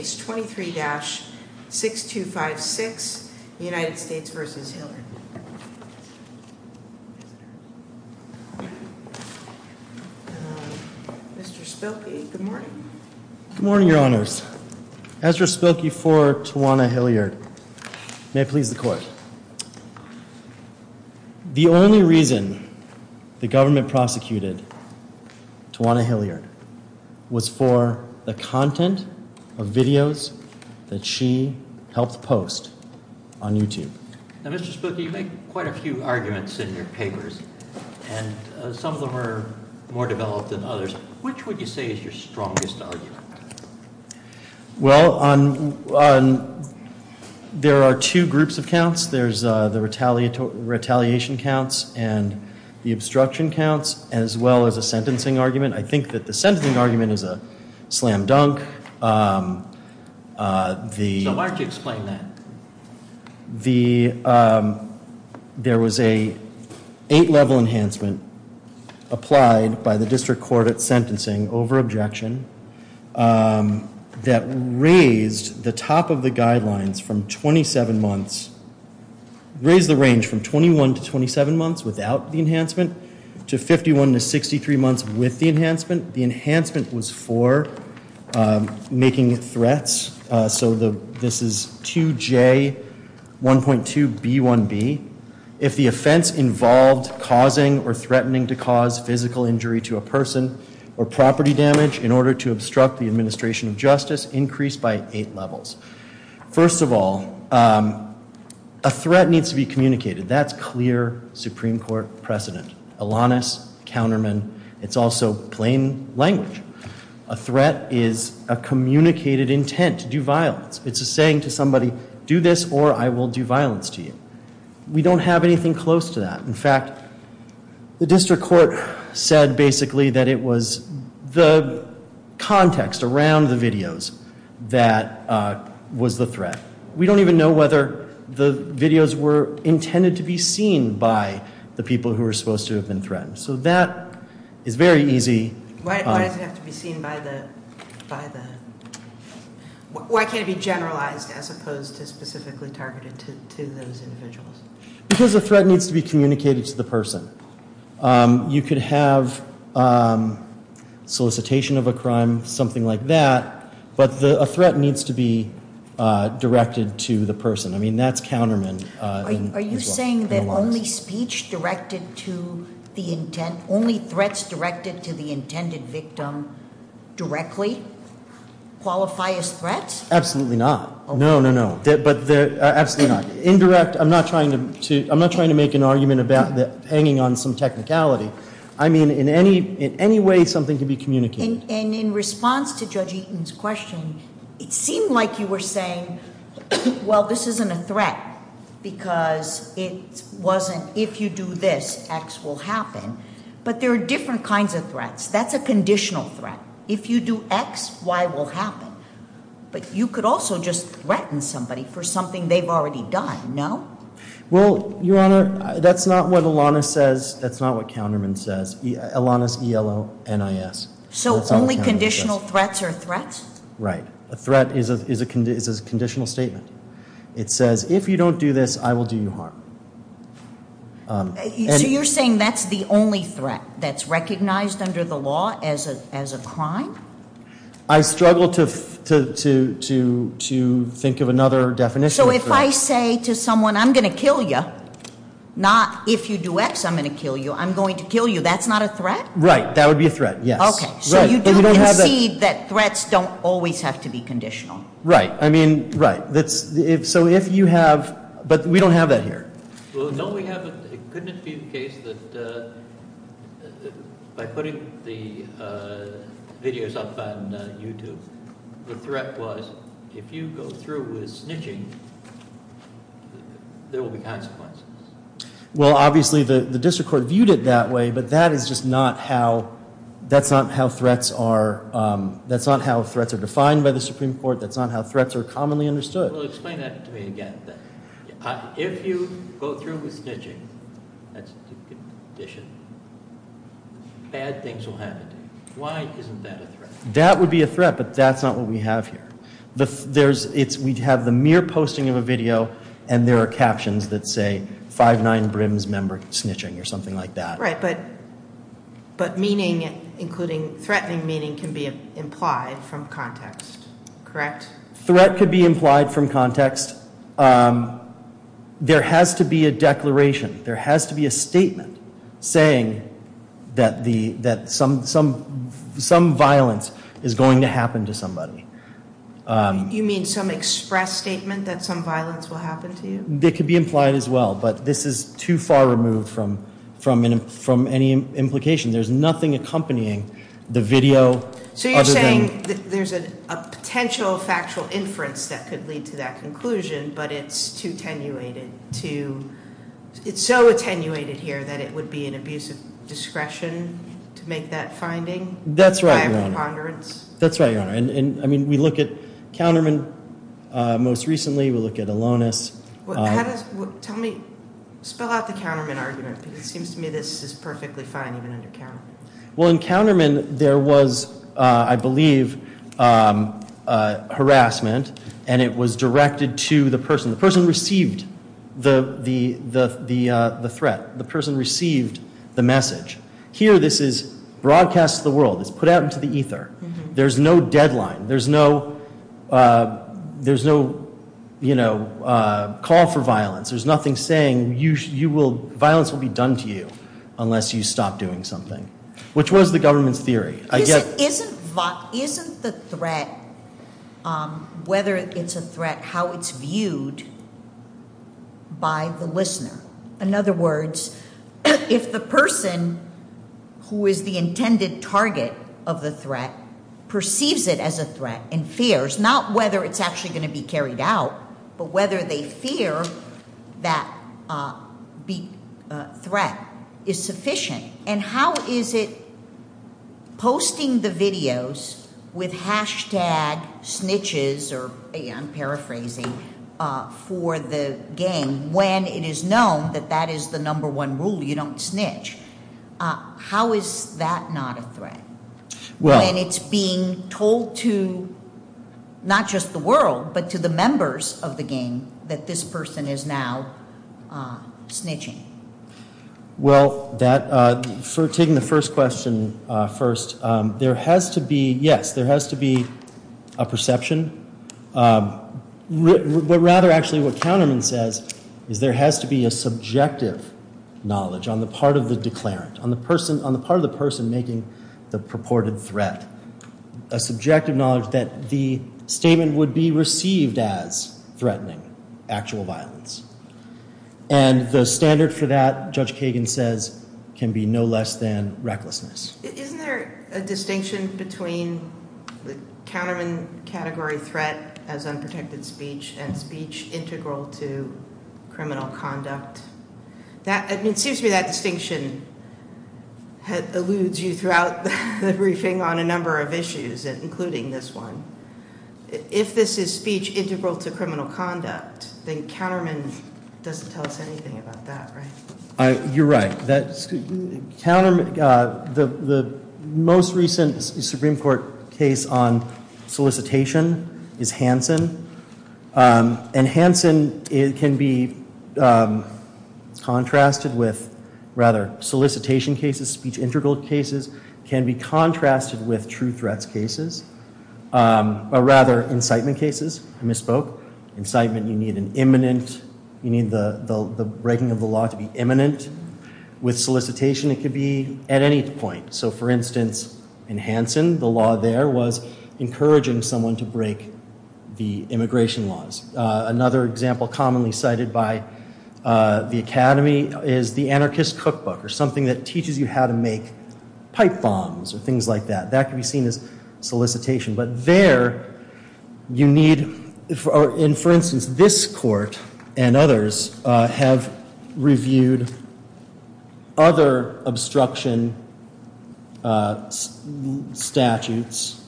Mr. Spilkey, good morning. Good morning, your honors. Ezra Spilkey for Tawana Hilliard. May it please the court. The only reason the government prosecuted Tawana Hilliard was for the content of videos that she helped post on YouTube. Now Mr. Spilkey, you make quite a few arguments in your papers and some of them are more developed than others. Which would you say is your strongest argument? Well, there are two groups of counts. There's the retaliatory retaliation counts and the obstruction counts as well as a sentencing argument. I think that the sentencing argument is a slam dunk. So why don't you explain that? There was a eight level enhancement applied by the district court at sentencing over objection that raised the top of the guidelines from 27 months, raised the range from 21 to 27 months without the enhancement to 51 to 63 months with the enhancement. The enhancement was for making threats. So this is 2J1.2B1B. If the offense involved causing or threatening to cause physical injury to a person or property damage in order to obstruct the administration of justice increased by eight levels. First of all, a threat needs to be communicated. That's clear Supreme Court precedent. Alanis, counterman, it's also plain language. A threat is a communicated intent to do violence. It's a saying to somebody, do this or I will do violence to you. We don't have anything close to that. In fact, the district court said basically that it was the context around the videos that was the threat. We don't even know whether the videos were intended to be seen by the people who were supposed to have been threatened. So that is very easy. Why does it have to be seen by the, why can't it be generalized as opposed to specifically targeted to those individuals? Because a threat needs to be communicated to the person. You could have solicitation of a crime, something like that, but the threat needs to be directed to the person. I mean, that's counterman. Are you saying that only speech directed to the intent, only threats directed to the intended victim directly qualify as threats? Absolutely not. No, no, no. But they're, absolutely not. Indirect, I'm not trying to, I'm not trying to make an argument about hanging on some technicality. I mean, in any, in any way, something can be communicated. And in a threat, because it wasn't, if you do this, X will happen. But there are different kinds of threats. That's a conditional threat. If you do X, Y will happen. But you could also just threaten somebody for something they've already done. No? Well, Your Honor, that's not what Elana says. That's not what counterman says. Elana's E-L-O-N-I-S. So only conditional threats are threats? Right. A threat is a conditional statement. It says, if you don't do this, I will do you harm. So you're saying that's the only threat that's recognized under the law as a, as a crime? I struggle to, to, to, to think of another definition. So if I say to someone, I'm going to kill you. Not, if you do X, I'm going to kill you. I'm going to kill you. That's not a threat? Right. That would be a threat. Yes. Okay. So you do concede that threats don't always have to be defined. Right. That's, if, so if you have, but we don't have that here. Well, no, we haven't. Couldn't it be the case that by putting the videos up on YouTube, the threat was, if you go through with snitching, there will be consequences? Well, obviously the, the district court viewed it that way, but that is just not how, that's not how threats are, that's not how threats are defined by the Supreme Court. That's not how threats are defined. Well, explain that to me again. If you go through with snitching, that's a condition, bad things will happen to you. Why isn't that a threat? That would be a threat, but that's not what we have here. The, there's, it's, we'd have the mere posting of a video and there are captions that say five, nine brims member snitching or something like that. Right. But, but meaning including threatening meaning can be implied from context, correct? Threat could be implied from context. There has to be a declaration. There has to be a statement saying that the, that some, some, some violence is going to happen to somebody. You mean some express statement that some violence will happen to you? That could be implied as well, but this is too far removed from, from, from any implication. There's nothing accompanying the video. So you're saying there's a potential factual inference that could lead to that conclusion, but it's too attenuated to, it's so attenuated here that it would be an abuse of discretion to make that finding? That's right, Your Honor. By a preponderance? That's right, Your Honor. And, and I mean, we look at counterman most recently. We look at Alonis. How does, tell me, spell out the counterman argument because it seems to me this is perfectly fine even under counterman. Well, in counterman there was, I believe, harassment and it was directed to the person. The person received the, the, the, the threat. The person received the message. Here this is broadcast to the world. It's put out into the ether. There's no deadline. There's no, there's no, you know, call for violence. There's nothing saying you, you will, violence will be done to you isn't the threat, um, whether it's a threat, how it's viewed by the listener. In other words, if the person who is the intended target of the threat perceives it as a threat and fears, not whether it's actually going to be carried out, but with hashtag snitches, or I'm paraphrasing, for the game when it is known that that is the number one rule, you don't snitch. How is that not a threat? When it's being told to not just the world, but to the members of the game that this person is now snitching? Well, that for taking the first question first, um, there has to be, yes, there has to be a perception. Um, but rather actually what counterman says is there has to be a subjective knowledge on the part of the declarant, on the person, on the part of the person making the purported threat. A subjective knowledge that the statement would be received as threatening, actual violence. And the standard for that, Judge Kagan says, can be no less than recklessness. Isn't there a distinction between the counterman category threat as unprotected speech and speech integral to criminal conduct? It seems to me that distinction eludes you throughout the briefing on a number of issues, including this one. If this is speech integral to criminal conduct, then counterman doesn't tell us anything about that, right? You're right. That's, counterman, uh, the most recent Supreme Court case on solicitation is Hansen. Um, and Hansen, it can be, um, contrasted with rather solicitation cases, speech integral cases can be contrasted with true threats cases, um, or rather incitement cases. I misspoke. Incitement, you need an imminent, you need the, the, the breaking of the law to be imminent. With solicitation, it could be at any point. So for instance, in Hansen, the law there was encouraging someone to break the immigration laws. Uh, another example commonly cited by, uh, the Academy is the anarchist cookbook or something that teaches you how to make pipe bombs or things like that. That can be seen as solicitation. But there you need, for instance, this court and others, uh, have reviewed other obstruction, uh, statutes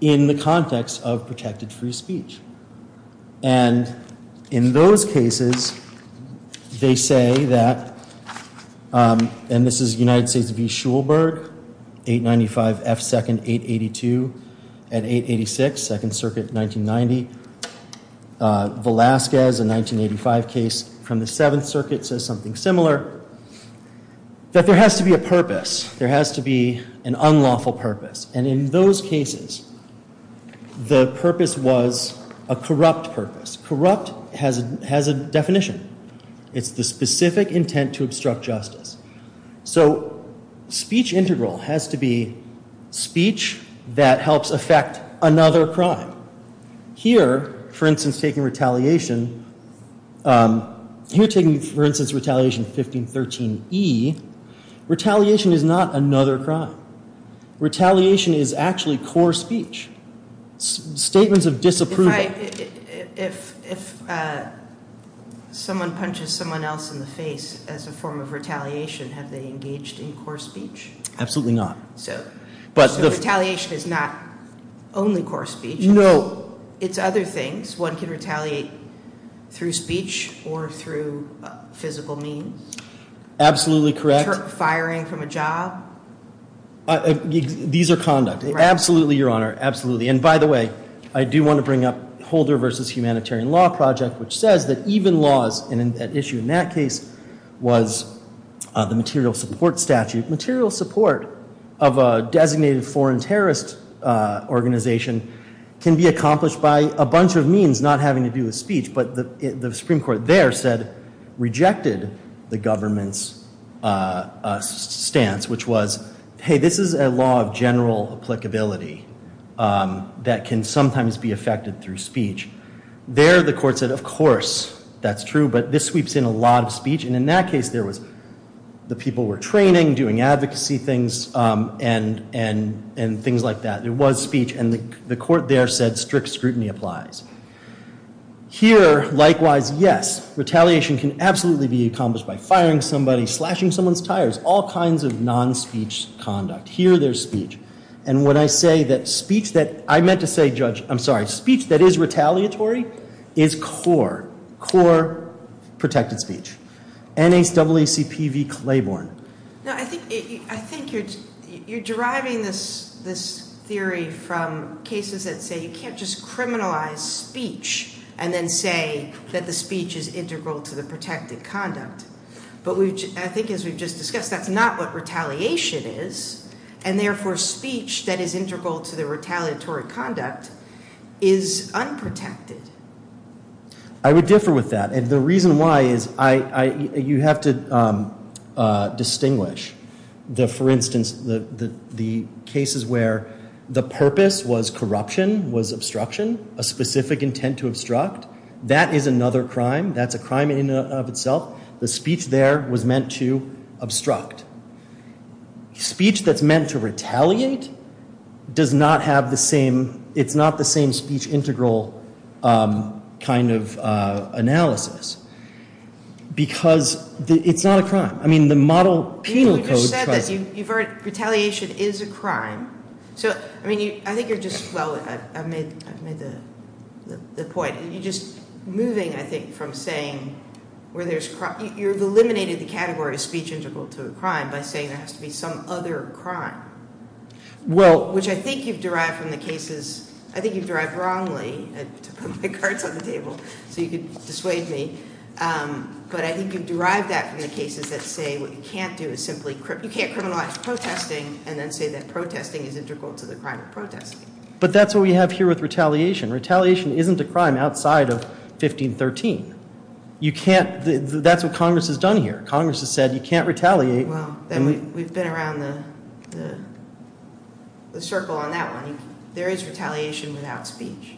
in the context of protected free speech. And in those cases, they say that, um, and this is United States v. Schulberg, 895 F. 2nd, 882 and 886, 2nd Circuit, 1990. Uh, Velasquez, a 1985 case from the 7th Circuit says something similar. That there has to be a purpose. There has to be an unlawful purpose. And in those cases, the purpose was a corrupt purpose. Corrupt has a, has a definition. It's the specific intent to obstruct justice. So speech integral has to be speech that helps affect another crime. Here, for instance, taking retaliation, um, here taking, for instance, retaliation 1513 E, retaliation is not another crime. Retaliation is actually core speech. Statements of disapproval. If, if, uh, someone punches someone else in the face as a form of retaliation, have they engaged in core speech? Absolutely not. So, but the retaliation is not only core speech. No. It's other things. One can retaliate through speech or through physical means. Absolutely correct. Firing from a job. These are conduct. Absolutely, Your Honor. Absolutely. And by the way, I do want to bring up Holder v. Humanitarian Law Project, which says that even laws, and an issue in that case was the material support statute. Material support of a designated foreign terrorist, uh, organization can be accomplished by a bunch of means, not having to do with speech. But the Supreme Court there said, rejected the government's, uh, stance, which was, hey, this is a law of general applicability, um, that can sometimes be affected through speech. There, the court said, of course, that's true. But this sweeps in a lot of speech. And in that case, there was the people were training, doing advocacy things, um, and, and, and things like that. It was speech. And the court there said strict scrutiny applies. Here, likewise, yes, retaliation can absolutely be accomplished by firing somebody, slashing someone's tires, all kinds of non-speech conduct. Here, there's speech. And when I say that speech that, I meant to say, Judge, I'm sorry, speech that is retaliatory is core, core protected speech. N-H-A-C-P-V-C-L-A-B-O-R-N. No, I think, I think you're, you're deriving this, this theory from cases that say you can't just criminalize speech and then say that the speech is integral to the protected conduct. But we've, I think as we've just discussed, that's not what retaliation is. And therefore, speech that is integral to the retaliatory conduct is unprotected. I would differ with that. And the reason why is I, I, you have to, um, uh, distinguish the, for instance, the, the, the cases where the purpose was corruption, was obstruction, a specific intent to obstruct, that is another crime. That's a crime in and of itself. The speech there was meant to obstruct. Speech that's meant to retaliate does not have the same, it's not the same speech integral, um, kind of, uh, analysis. Because it's not a crime. I mean, the model penal code- You just said that, you, you've heard, retaliation is a crime. So, I mean, you, I think you're just, well, I've, I've made, I've made the, the, the point. You're just moving, I think, from saying where there's, you've eliminated the category of speech integral to a crime by saying there has to be some other crime. Well- Which I think you've derived from the cases, I think you've derived wrongly, I took out my cards on the table so you could dissuade me. Um, but I think you've derived that from the cases that say what you can't do is simply, you can't criminalize protesting and then say that protesting is integral to the crime of protesting. But that's what we have here with retaliation. Retaliation isn't a crime outside of 1513. You can't, that's what Congress has done here. Congress has said you can't retaliate- Well, then we've been around the, the circle on that one. There is retaliation without speech.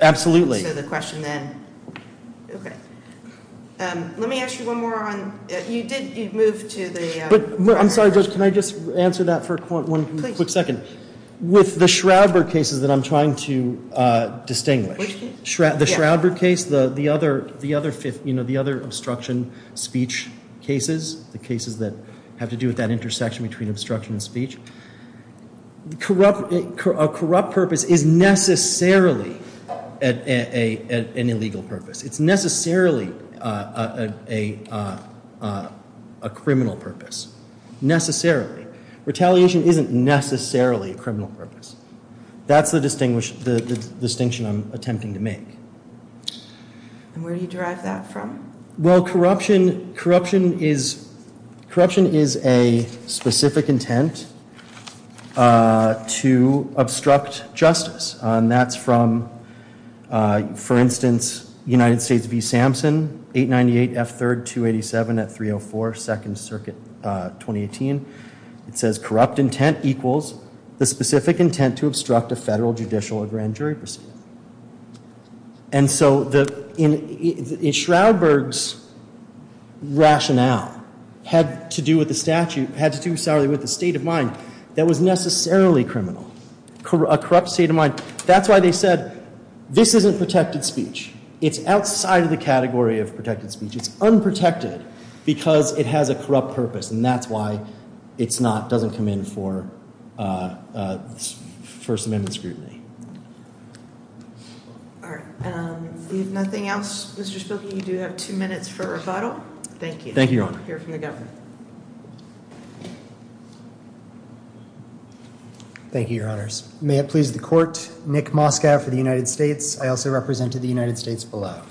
Absolutely. So the question then, okay. Um, let me ask you one more on, you did, you moved to the- But, I'm sorry, Judge, can I just answer that for one quick second? With the Shroudberg cases that I'm trying to, uh, distinguish- Which case? The Shroudberg case, the, the other, the other fifth, you know, the other obstruction speech cases, the cases that have to do with that intersection between obstruction and speech. Corrupt, a corrupt purpose is necessarily an illegal purpose. It's necessarily, uh, a, uh, a criminal purpose. Necessarily. Retaliation isn't necessarily a criminal purpose. That's the distinguish, the distinction I'm attempting to make. And where do you derive that from? Well, corruption, corruption is, corruption is a specific intent, uh, to obstruct justice. And that's from, uh, for instance, United States v. Sampson, 898 F3rd 287 at 304 2nd Circuit, uh, 2018. It says corrupt intent equals the specific intent to obstruct a federal judicial or grand jury proceeding. And so the, in, in Shroudberg's rationale had to do with the statute, had to do, sorry, with the state of mind that was necessarily criminal. A corrupt state of mind. That's why they said, this isn't protected speech. It's outside of the category of protected speech. It's unprotected because it has a corrupt purpose. And that's why it's not, doesn't come in for, uh, uh, First Amendment scrutiny. All right. Um, if nothing else, Mr. Spilkey, you do have two minutes for rebuttal. Thank you. Thank you, Your Honor. We'll hear from the Governor. Thank you, Your Honors. May it please the court. Nick Moskow for the United States. I also represented the United States below.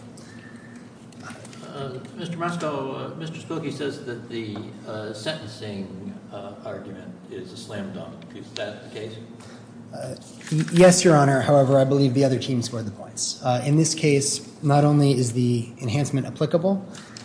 Mr. Moskow, Mr. Spilkey says that the sentencing argument is a slam dunk. Is that the case? Yes, Your Honor. However, I believe the other team scored the points. In this case, not only is the enhancement applicable,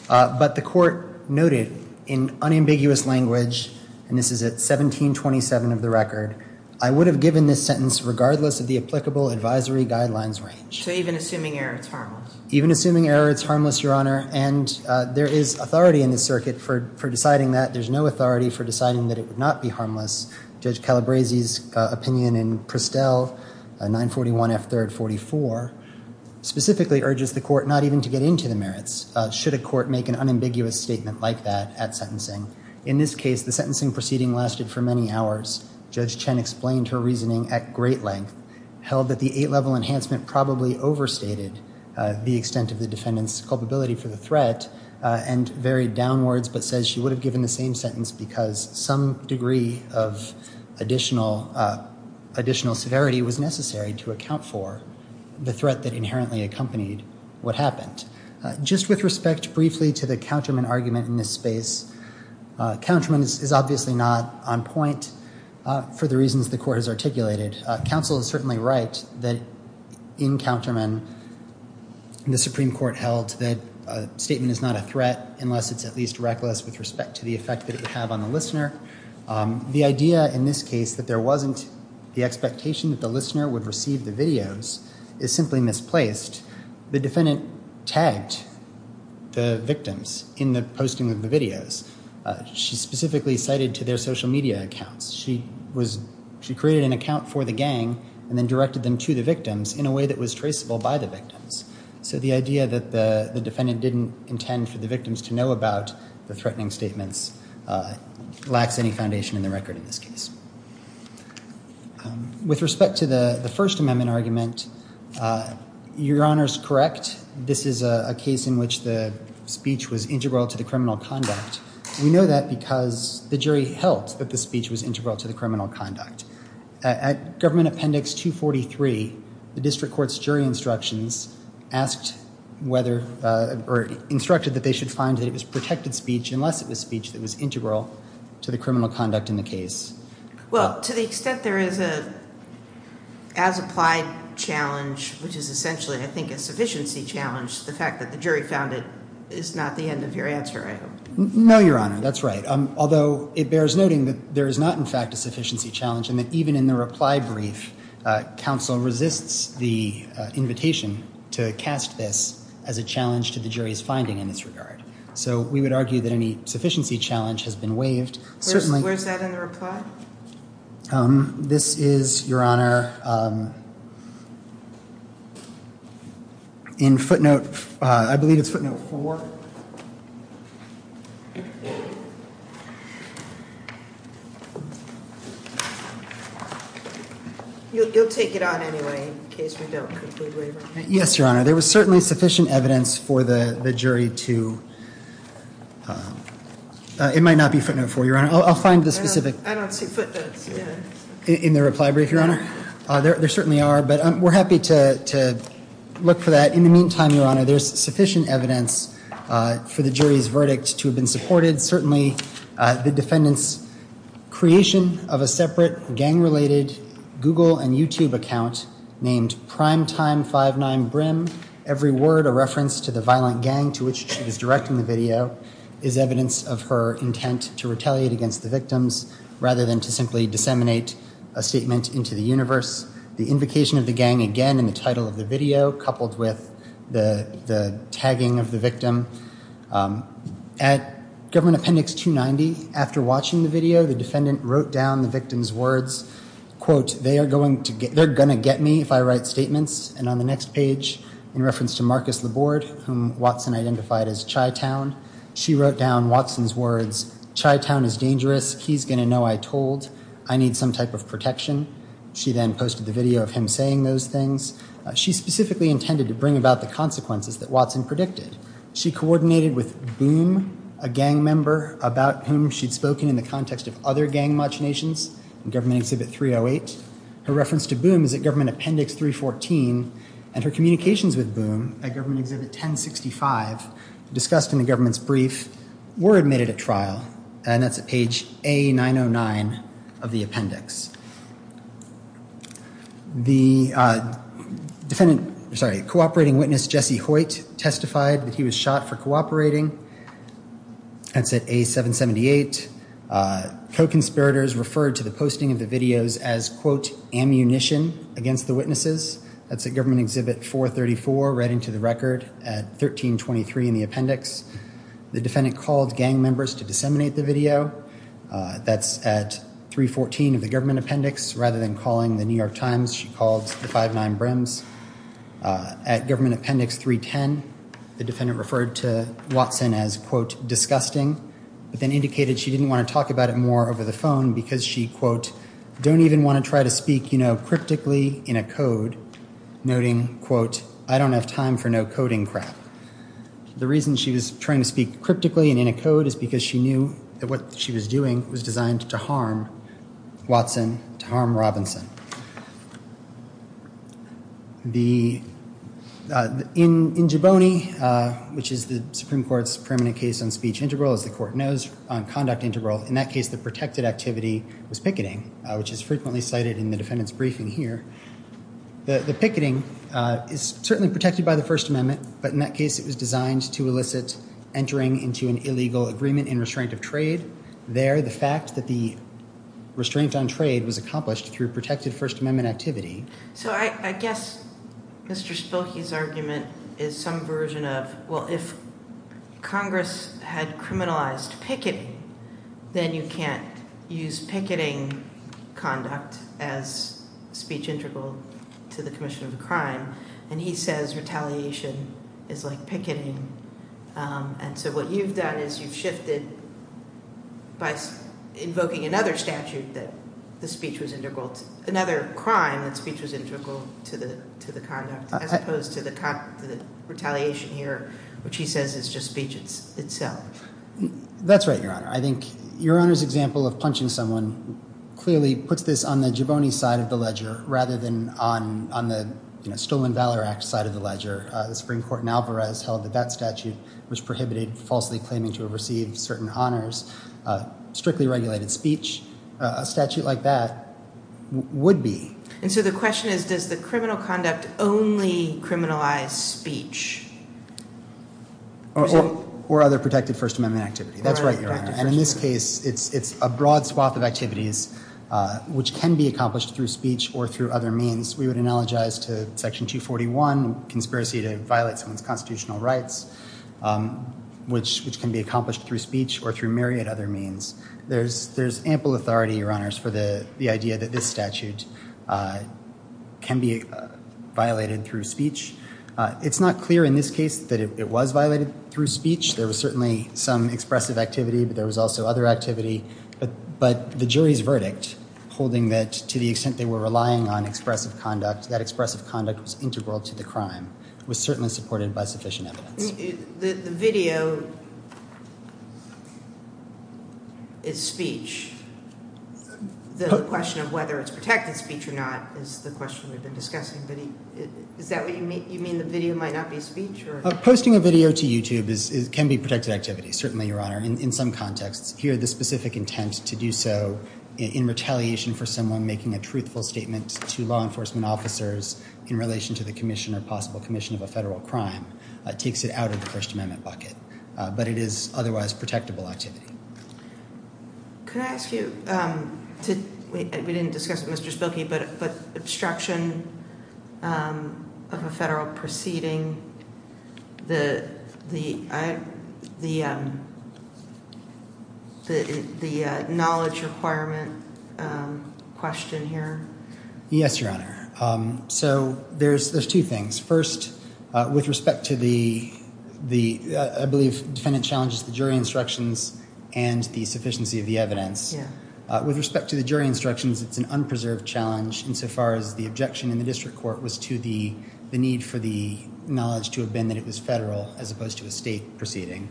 but the court noted in unambiguous language, and this is at 1727 of the record, I would have given this sentence regardless of the applicable advisory guidelines range. So even assuming error, it's harmless. Even assuming error, it's harmless, Your Honor. And there is authority in the circuit for deciding that. There's no authority for deciding that it would not be harmless. Judge Calabresi's opinion in Prestel 941 F. 3rd 44 specifically urges the court not even to get into the merits, should a court make an unambiguous statement like that at sentencing. In this case, the sentencing proceeding lasted for many hours. Judge Chen explained her reasoning at great length, held that the eight-level enhancement probably overstated the extent of the defendant's culpability for the threat and varied downwards, but says she would have given the same sentence because some degree of additional severity was necessary to account for the threat that inherently accompanied what happened. Just with respect briefly to the counterman argument in this space, counterman is obviously not on point for the reasons the court has articulated. Counsel is certainly right that in counterman, the Supreme Court held that a statement is not a threat unless it's at least reckless with respect to the effect that it would have on the listener. The idea in this case that there wasn't the expectation that the listener would receive the videos is simply misplaced. The defendant tagged the victims in the posting of the videos. She specifically cited to their social media accounts. She created an account for the gang and then directed them to the victims in a way that was traceable by the victims. So the idea that the defendant didn't intend for the victims to know about the threatening statements lacks any foundation in the record in this case. With respect to the First Amendment argument, Your Honor is correct. This is a case in which the speech was integral to the criminal conduct. We know that because the jury held that the speech was integral to the criminal conduct. At Government Appendix 243, the district court's jury instructions asked whether or instructed that they should find that it was protected speech unless it was speech that was integral to the criminal conduct in the case. Well, to the extent there is a as-applied challenge, which is essentially I think a sufficiency challenge, the fact that the jury found it is not the end of your answer, I hope. No, Your Honor, that's right. Although it bears noting that there is not in fact a sufficiency challenge and that even in the reply brief, counsel resists the invitation to cast this as a challenge to the jury's finding in this regard. So we would argue that any sufficiency challenge has been waived. Certainly. Where's that in the reply? This is, Your Honor, in footnote, I believe it's footnote four. You'll take it on anyway in case we don't completely waive it. Yes, Your Honor. There was certainly sufficient evidence for the jury to, it might not be footnote four, Your Honor. I'll find the specific. I don't see footnotes. In the reply brief, Your Honor. There certainly are, but we're happy to look for that. In the meantime, Your Honor, there's sufficient evidence for the jury's verdict to have been supported. Certainly, the defendant's creation of a separate gang-related Google and YouTube account named Primetime59brim, every word a reference to the violent gang to which she was directing the video is evidence of her intent to retaliate against the victims rather than to simply disseminate a statement into the universe. The invocation of the gang again in the title of the video coupled with the tagging of the victim at Government Appendix 290. After watching the video, the defendant wrote down the victim's words, quote, they're going to get me if I write statements. And on the next page, in reference to Marcus Laborde, whom Watson identified as Chai Town, she wrote down Watson's words, Chai Town is dangerous. He's going to know I told. I need some type of protection. She then posted the video of him saying those things. She specifically intended to bring about the consequences that Watson predicted. She coordinated with Boom, a gang member, about whom she'd spoken in the context of other gang machinations in Government Exhibit 308. Her reference to Boom is at Government Appendix 314. And her communications with Boom at Government Exhibit 1065 discussed in the government's brief were admitted at trial. And that's at page A909 of the appendix. The defendant, sorry, cooperating witness, Jesse Hoyt, testified that he was shot for cooperating. That's at A778. Co-conspirators referred to the posting of the videos as, quote, ammunition against the witnesses. That's at Government Exhibit 434, right into the record at 1323 in the appendix. The defendant called gang members to disseminate the video. That's at 314 of the Government Appendix 308. Rather than calling the New York Times, she called the 59 Brims. At Government Appendix 310, the defendant referred to Watson as, quote, disgusting, but then indicated she didn't want to talk about it more over the phone because she, quote, don't even want to try to speak, you know, cryptically in a code, noting, quote, I don't have time for no coding crap. The reason she was trying to speak cryptically and in a code is because she knew that what she was doing was designed to harm Watson, to harm Robinson. The, in Jaboni, which is the Supreme Court's permanent case on speech integral, as the court knows on conduct integral, in that case, the protected activity was picketing, which is frequently cited in the defendant's briefing here. The picketing is certainly protected by the First Amendment, but in that case, it was designed to elicit entering into an illegal agreement in restraint of trade. There, the fact that the restraint on trade was accomplished through protected First Amendment activity. So I guess Mr. Spilkey's argument is some version of, well, if Congress had criminalized picketing, then you can't use picketing conduct as speech integral to the commission of a crime. And he says retaliation is like picketing. And so what you've done is you've shifted by invoking another statute that the speech was integral, another crime that speech was integral to the conduct, as opposed to the retaliation here, which he says is just speech itself. That's right, Your Honor. I think Your Honor's example of punching someone clearly puts this on the Jaboni side of the ledger, rather than on the Stolen Valor Act side of the ledger. The Supreme Court in Alvarez held that that statute was prohibited falsely claiming to have received certain honors, strictly regulated speech. A statute like that would be. And so the question is, does the criminal conduct only criminalize speech? Or other protected First Amendment activity. That's right, Your Honor. And in this case, it's a broad swath of activities which can be accomplished through speech or through other means. We would analogize to Section 241, conspiracy to violate someone's constitutional rights, which can be accomplished through speech or through myriad other means. There's ample authority, Your Honors, for the idea that this statute can be violated through speech. It's not clear in this case that it was violated through speech. There was certainly some expressive activity, but there was also other activity. But the jury's verdict, holding that to the extent they were relying on expressive conduct, that expressive conduct was integral to the crime, was certainly supported by sufficient evidence. I mean, the video is speech. The question of whether it's protected speech or not is the question we've been discussing. But is that what you mean? You mean the video might not be speech or? Posting a video to YouTube can be protected activity, certainly, Your Honor, in some contexts. Here, the specific intent to do so in retaliation for someone making a truthful statement to law enforcement officers in relation to the commission or possible commission of a federal crime takes it out of the First Amendment bucket. But it is otherwise protectable activity. Could I ask you, we didn't discuss it with Mr. Spilkey, but obstruction of a federal proceeding, the knowledge requirement question here. Yes, Your Honor. So there's two things. First, with respect to the, I believe defendant challenges the jury instructions and the sufficiency of the evidence. With respect to the jury instructions, it's an unpreserved challenge insofar as the objection in the district court was to the need for the knowledge to have been that it was federal as opposed to a state proceeding.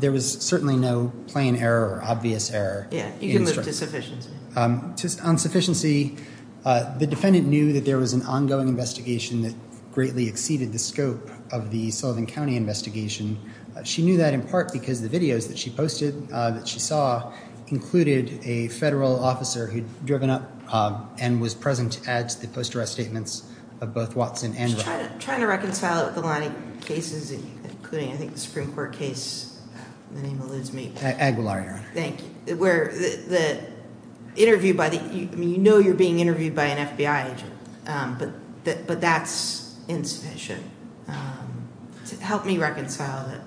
There was certainly no plain error or obvious error. Yeah, you can live to sufficiency. On sufficiency, the defendant knew that there was an ongoing investigation that greatly exceeded the scope of the Sullivan County investigation. She knew that in part because the videos that she posted, that she saw, included a federal officer who'd driven up and was present at the post-arrest statements of both Watson and Brown. Trying to reconcile it with a lot of cases, including I think the Supreme Court case, the name alludes me. Aguilar, Your Honor. Thank you. Where the interview by the, I mean, you know you're being interviewed by an FBI agent, but that's insufficient. Help me reconcile that.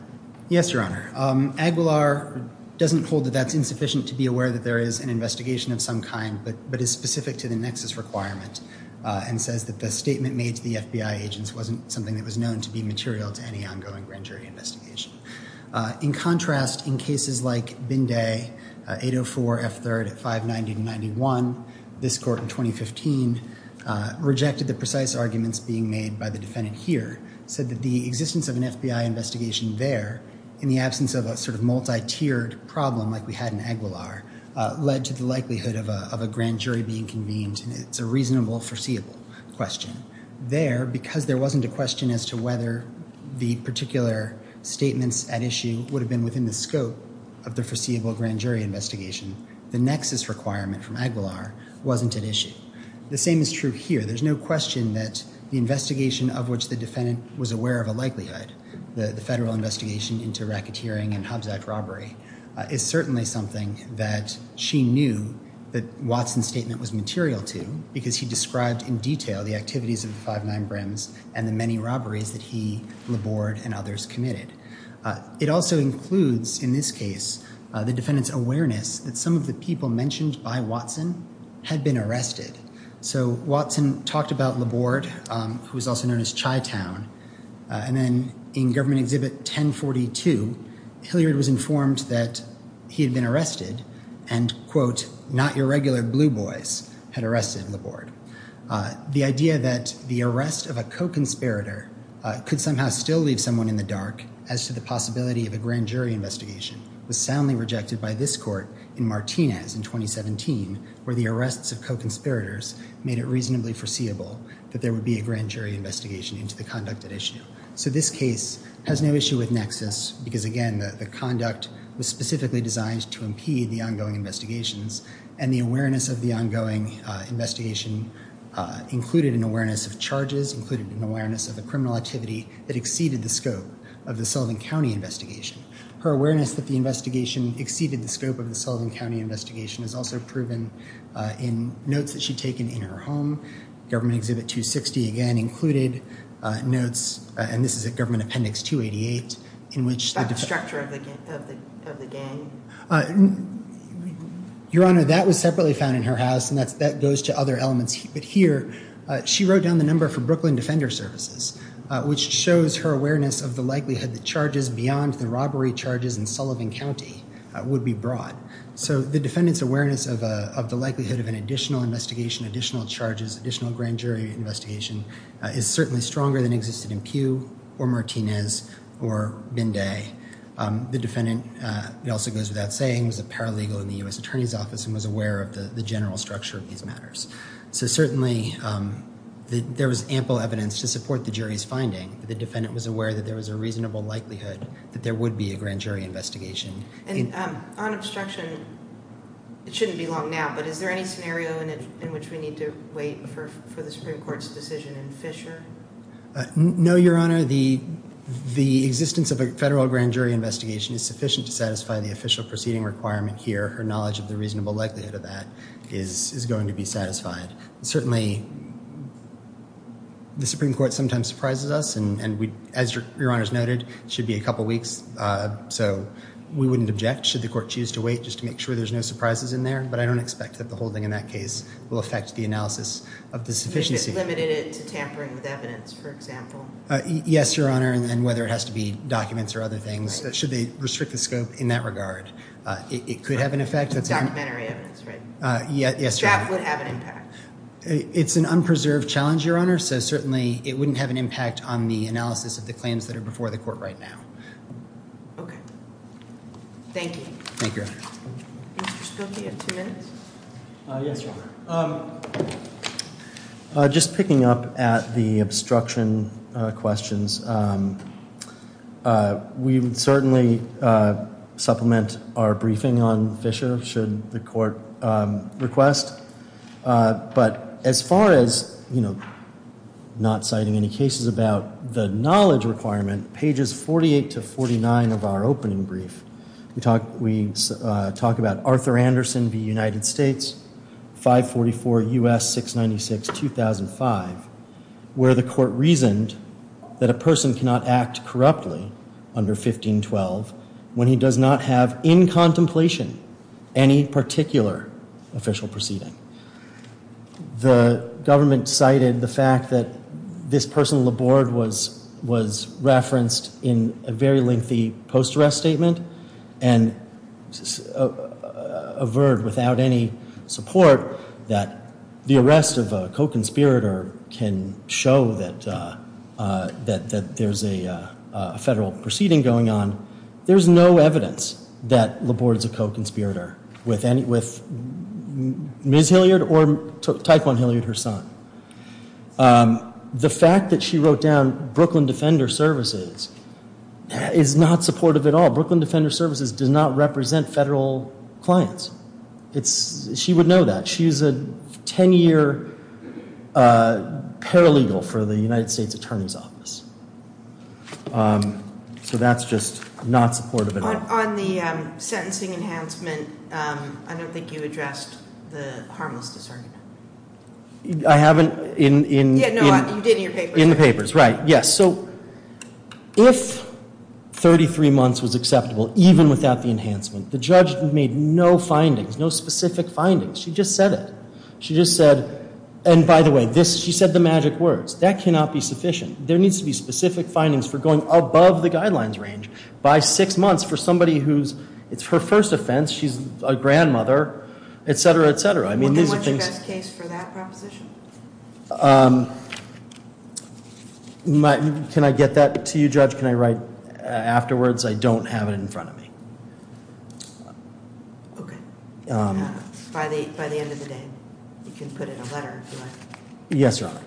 Yes, Your Honor. Aguilar doesn't hold that that's insufficient to be aware that there is an investigation of some kind, but is specific to the nexus requirement and says that the statement made to the FBI agents wasn't something that was known to be material to any ongoing grand jury investigation. In contrast, in cases like Binday, 804 F3rd at 590 to 91, this court in 2015 rejected the precise arguments being made by the defendant here, said that the existence of an FBI investigation there in the absence of a sort of multi-tiered problem like we had in Aguilar led to the likelihood of a grand jury being convened, and it's a reasonable foreseeable question. There, because there wasn't a question as to whether the particular statements at issue would have been within the scope of the foreseeable grand jury investigation, the nexus requirement from Aguilar wasn't at issue. The same is true here. There's no question that the investigation of which the defendant was aware of a likelihood, the federal investigation into racketeering and Hobbs Act robbery is certainly something that she knew that Watson's statement was material to because he described in detail the activities of the 59 Brims and the many robberies that he, Laborde, and others committed. It also includes, in this case, the defendant's awareness that some of the people mentioned by Watson had been arrested. So Watson talked about Laborde, who was also known as Chitown, and then in Government Exhibit 1042, Hilliard was informed that he had been arrested, and, quote, not your regular blue boys had arrested Laborde. The idea that the arrest of a co-conspirator could somehow still leave someone in the dark as to the possibility of a grand jury investigation was soundly rejected by this court in Martinez in 2017, where the arrests of co-conspirators made it reasonably foreseeable that there would be a grand jury investigation into the conduct at issue. So this case has no issue with nexus because, again, the conduct was specifically designed to impede the ongoing investigations, and the awareness of the ongoing investigation included an awareness of charges, included an awareness of the criminal activity that exceeded the scope of the Sullivan County investigation. Her awareness that the investigation exceeded the scope of the Sullivan County investigation is also proven in notes that she'd taken in her home. Government Exhibit 260, again, included notes, and this is at Government Appendix 288, in which the- The structure of the gang? Your Honor, that was separately found in her house, and that goes to other elements. But here, she wrote down the number for Brooklyn Defender Services, which shows her awareness of the likelihood that charges beyond the robbery charges in Sullivan County would be brought. So the defendant's awareness of the likelihood of an additional investigation, additional charges, additional grand jury investigation is certainly stronger than existed or Martinez or Binday. The defendant, it also goes without saying, was a paralegal in the U.S. Attorney's Office and was aware of the general structure of these matters. So certainly, there was ample evidence to support the jury's finding. The defendant was aware that there was a reasonable likelihood that there would be a grand jury investigation. And on obstruction, it shouldn't be long now, but is there any scenario in which we need to wait for the Supreme Court's decision in Fisher? No, Your Honor. The existence of a federal grand jury investigation is sufficient to satisfy the official proceeding requirement here. Her knowledge of the reasonable likelihood of that is going to be satisfied. Certainly, the Supreme Court sometimes surprises us, and as Your Honor's noted, it should be a couple of weeks. So we wouldn't object should the court choose to wait just to make sure there's no surprises in there. But I don't expect that the holding in that case will affect the analysis of the sufficiency. Limited it to tampering with evidence, for example. Yes, Your Honor, and whether it has to be documents or other things. Should they restrict the scope in that regard? It could have an effect. It's documentary evidence, right? Yes, Your Honor. That would have an impact. It's an unpreserved challenge, Your Honor. So certainly, it wouldn't have an impact on the analysis of the claims that are before the court right now. Okay. Thank you. Thank you, Your Honor. Mr. Schulte, you have two minutes. Yes, Your Honor. I'm just picking up at the obstruction questions. We would certainly supplement our briefing on Fisher should the court request. But as far as not citing any cases about the knowledge requirement, pages 48 to 49 of our opening brief, we talk about Arthur Anderson v. United States, 544 U.S. 696, 2005, where the court reasoned that a person cannot act corruptly under 1512 when he does not have in contemplation any particular official proceeding. The government cited the fact that this person on the board was referenced in a very lengthy post-arrest statement and averred without any support that the arrest of a co-conspirator can show that there's a federal proceeding going on. There's no evidence that Laborde's a co-conspirator with Ms. Hilliard or Tyquan Hilliard, her son. The fact that she wrote down Brooklyn Defender Services is not supportive at all. Brooklyn Defender Services does not represent federal clients. She would know that. She's a 10-year paralegal for the United States Attorney's Office. So that's just not supportive at all. On the sentencing enhancement, I don't think you addressed the harmless discernment. I haven't in... Yeah, no, you did in your papers. In the papers, right. So if 33 months was acceptable, even without the enhancement, the judge made no findings, no specific findings. She just said it. She just said, and by the way, she said the magic words. That cannot be sufficient. There needs to be specific findings for going above the guidelines range by six months for somebody who's... It's her first offense. She's a grandmother, et cetera, et cetera. What's the best case for that proposition? Um, can I get that to you, judge? Can I write afterwards? I don't have it in front of me. Okay, by the end of the day, you can put in a letter. Yes, Your Honor.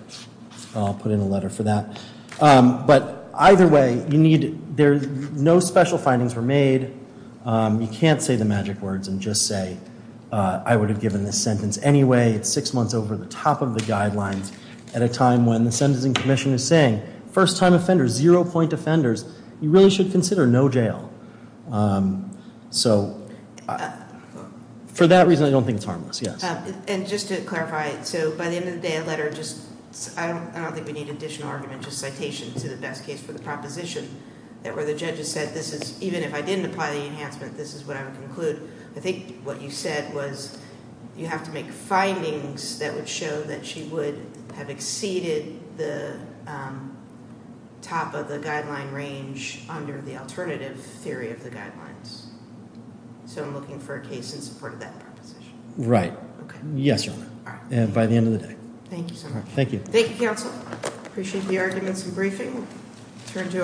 I'll put in a letter for that. But either way, you need... There's no special findings were made. You can't say the magic words and just say, I would have given this sentence anyway. It's six months over the top of the guidelines at a time when the sentencing commission is saying, first-time offenders, zero-point offenders, you really should consider no jail. So for that reason, I don't think it's harmless. Yes. And just to clarify it. So by the end of the day, a letter just... I don't think we need additional argument, just citation to the best case for the proposition that where the judge has said, this is even if I didn't apply the enhancement, this is what I would conclude. I think what you said was, you have to make findings that would show that she would have exceeded the top of the guideline range under the alternative theory of the guidelines. So I'm looking for a case in support of that proposition. Right. Yes, Your Honor. And by the end of the day. Thank you so much. Thank you, counsel. Appreciate the arguments and briefing. Turn to our...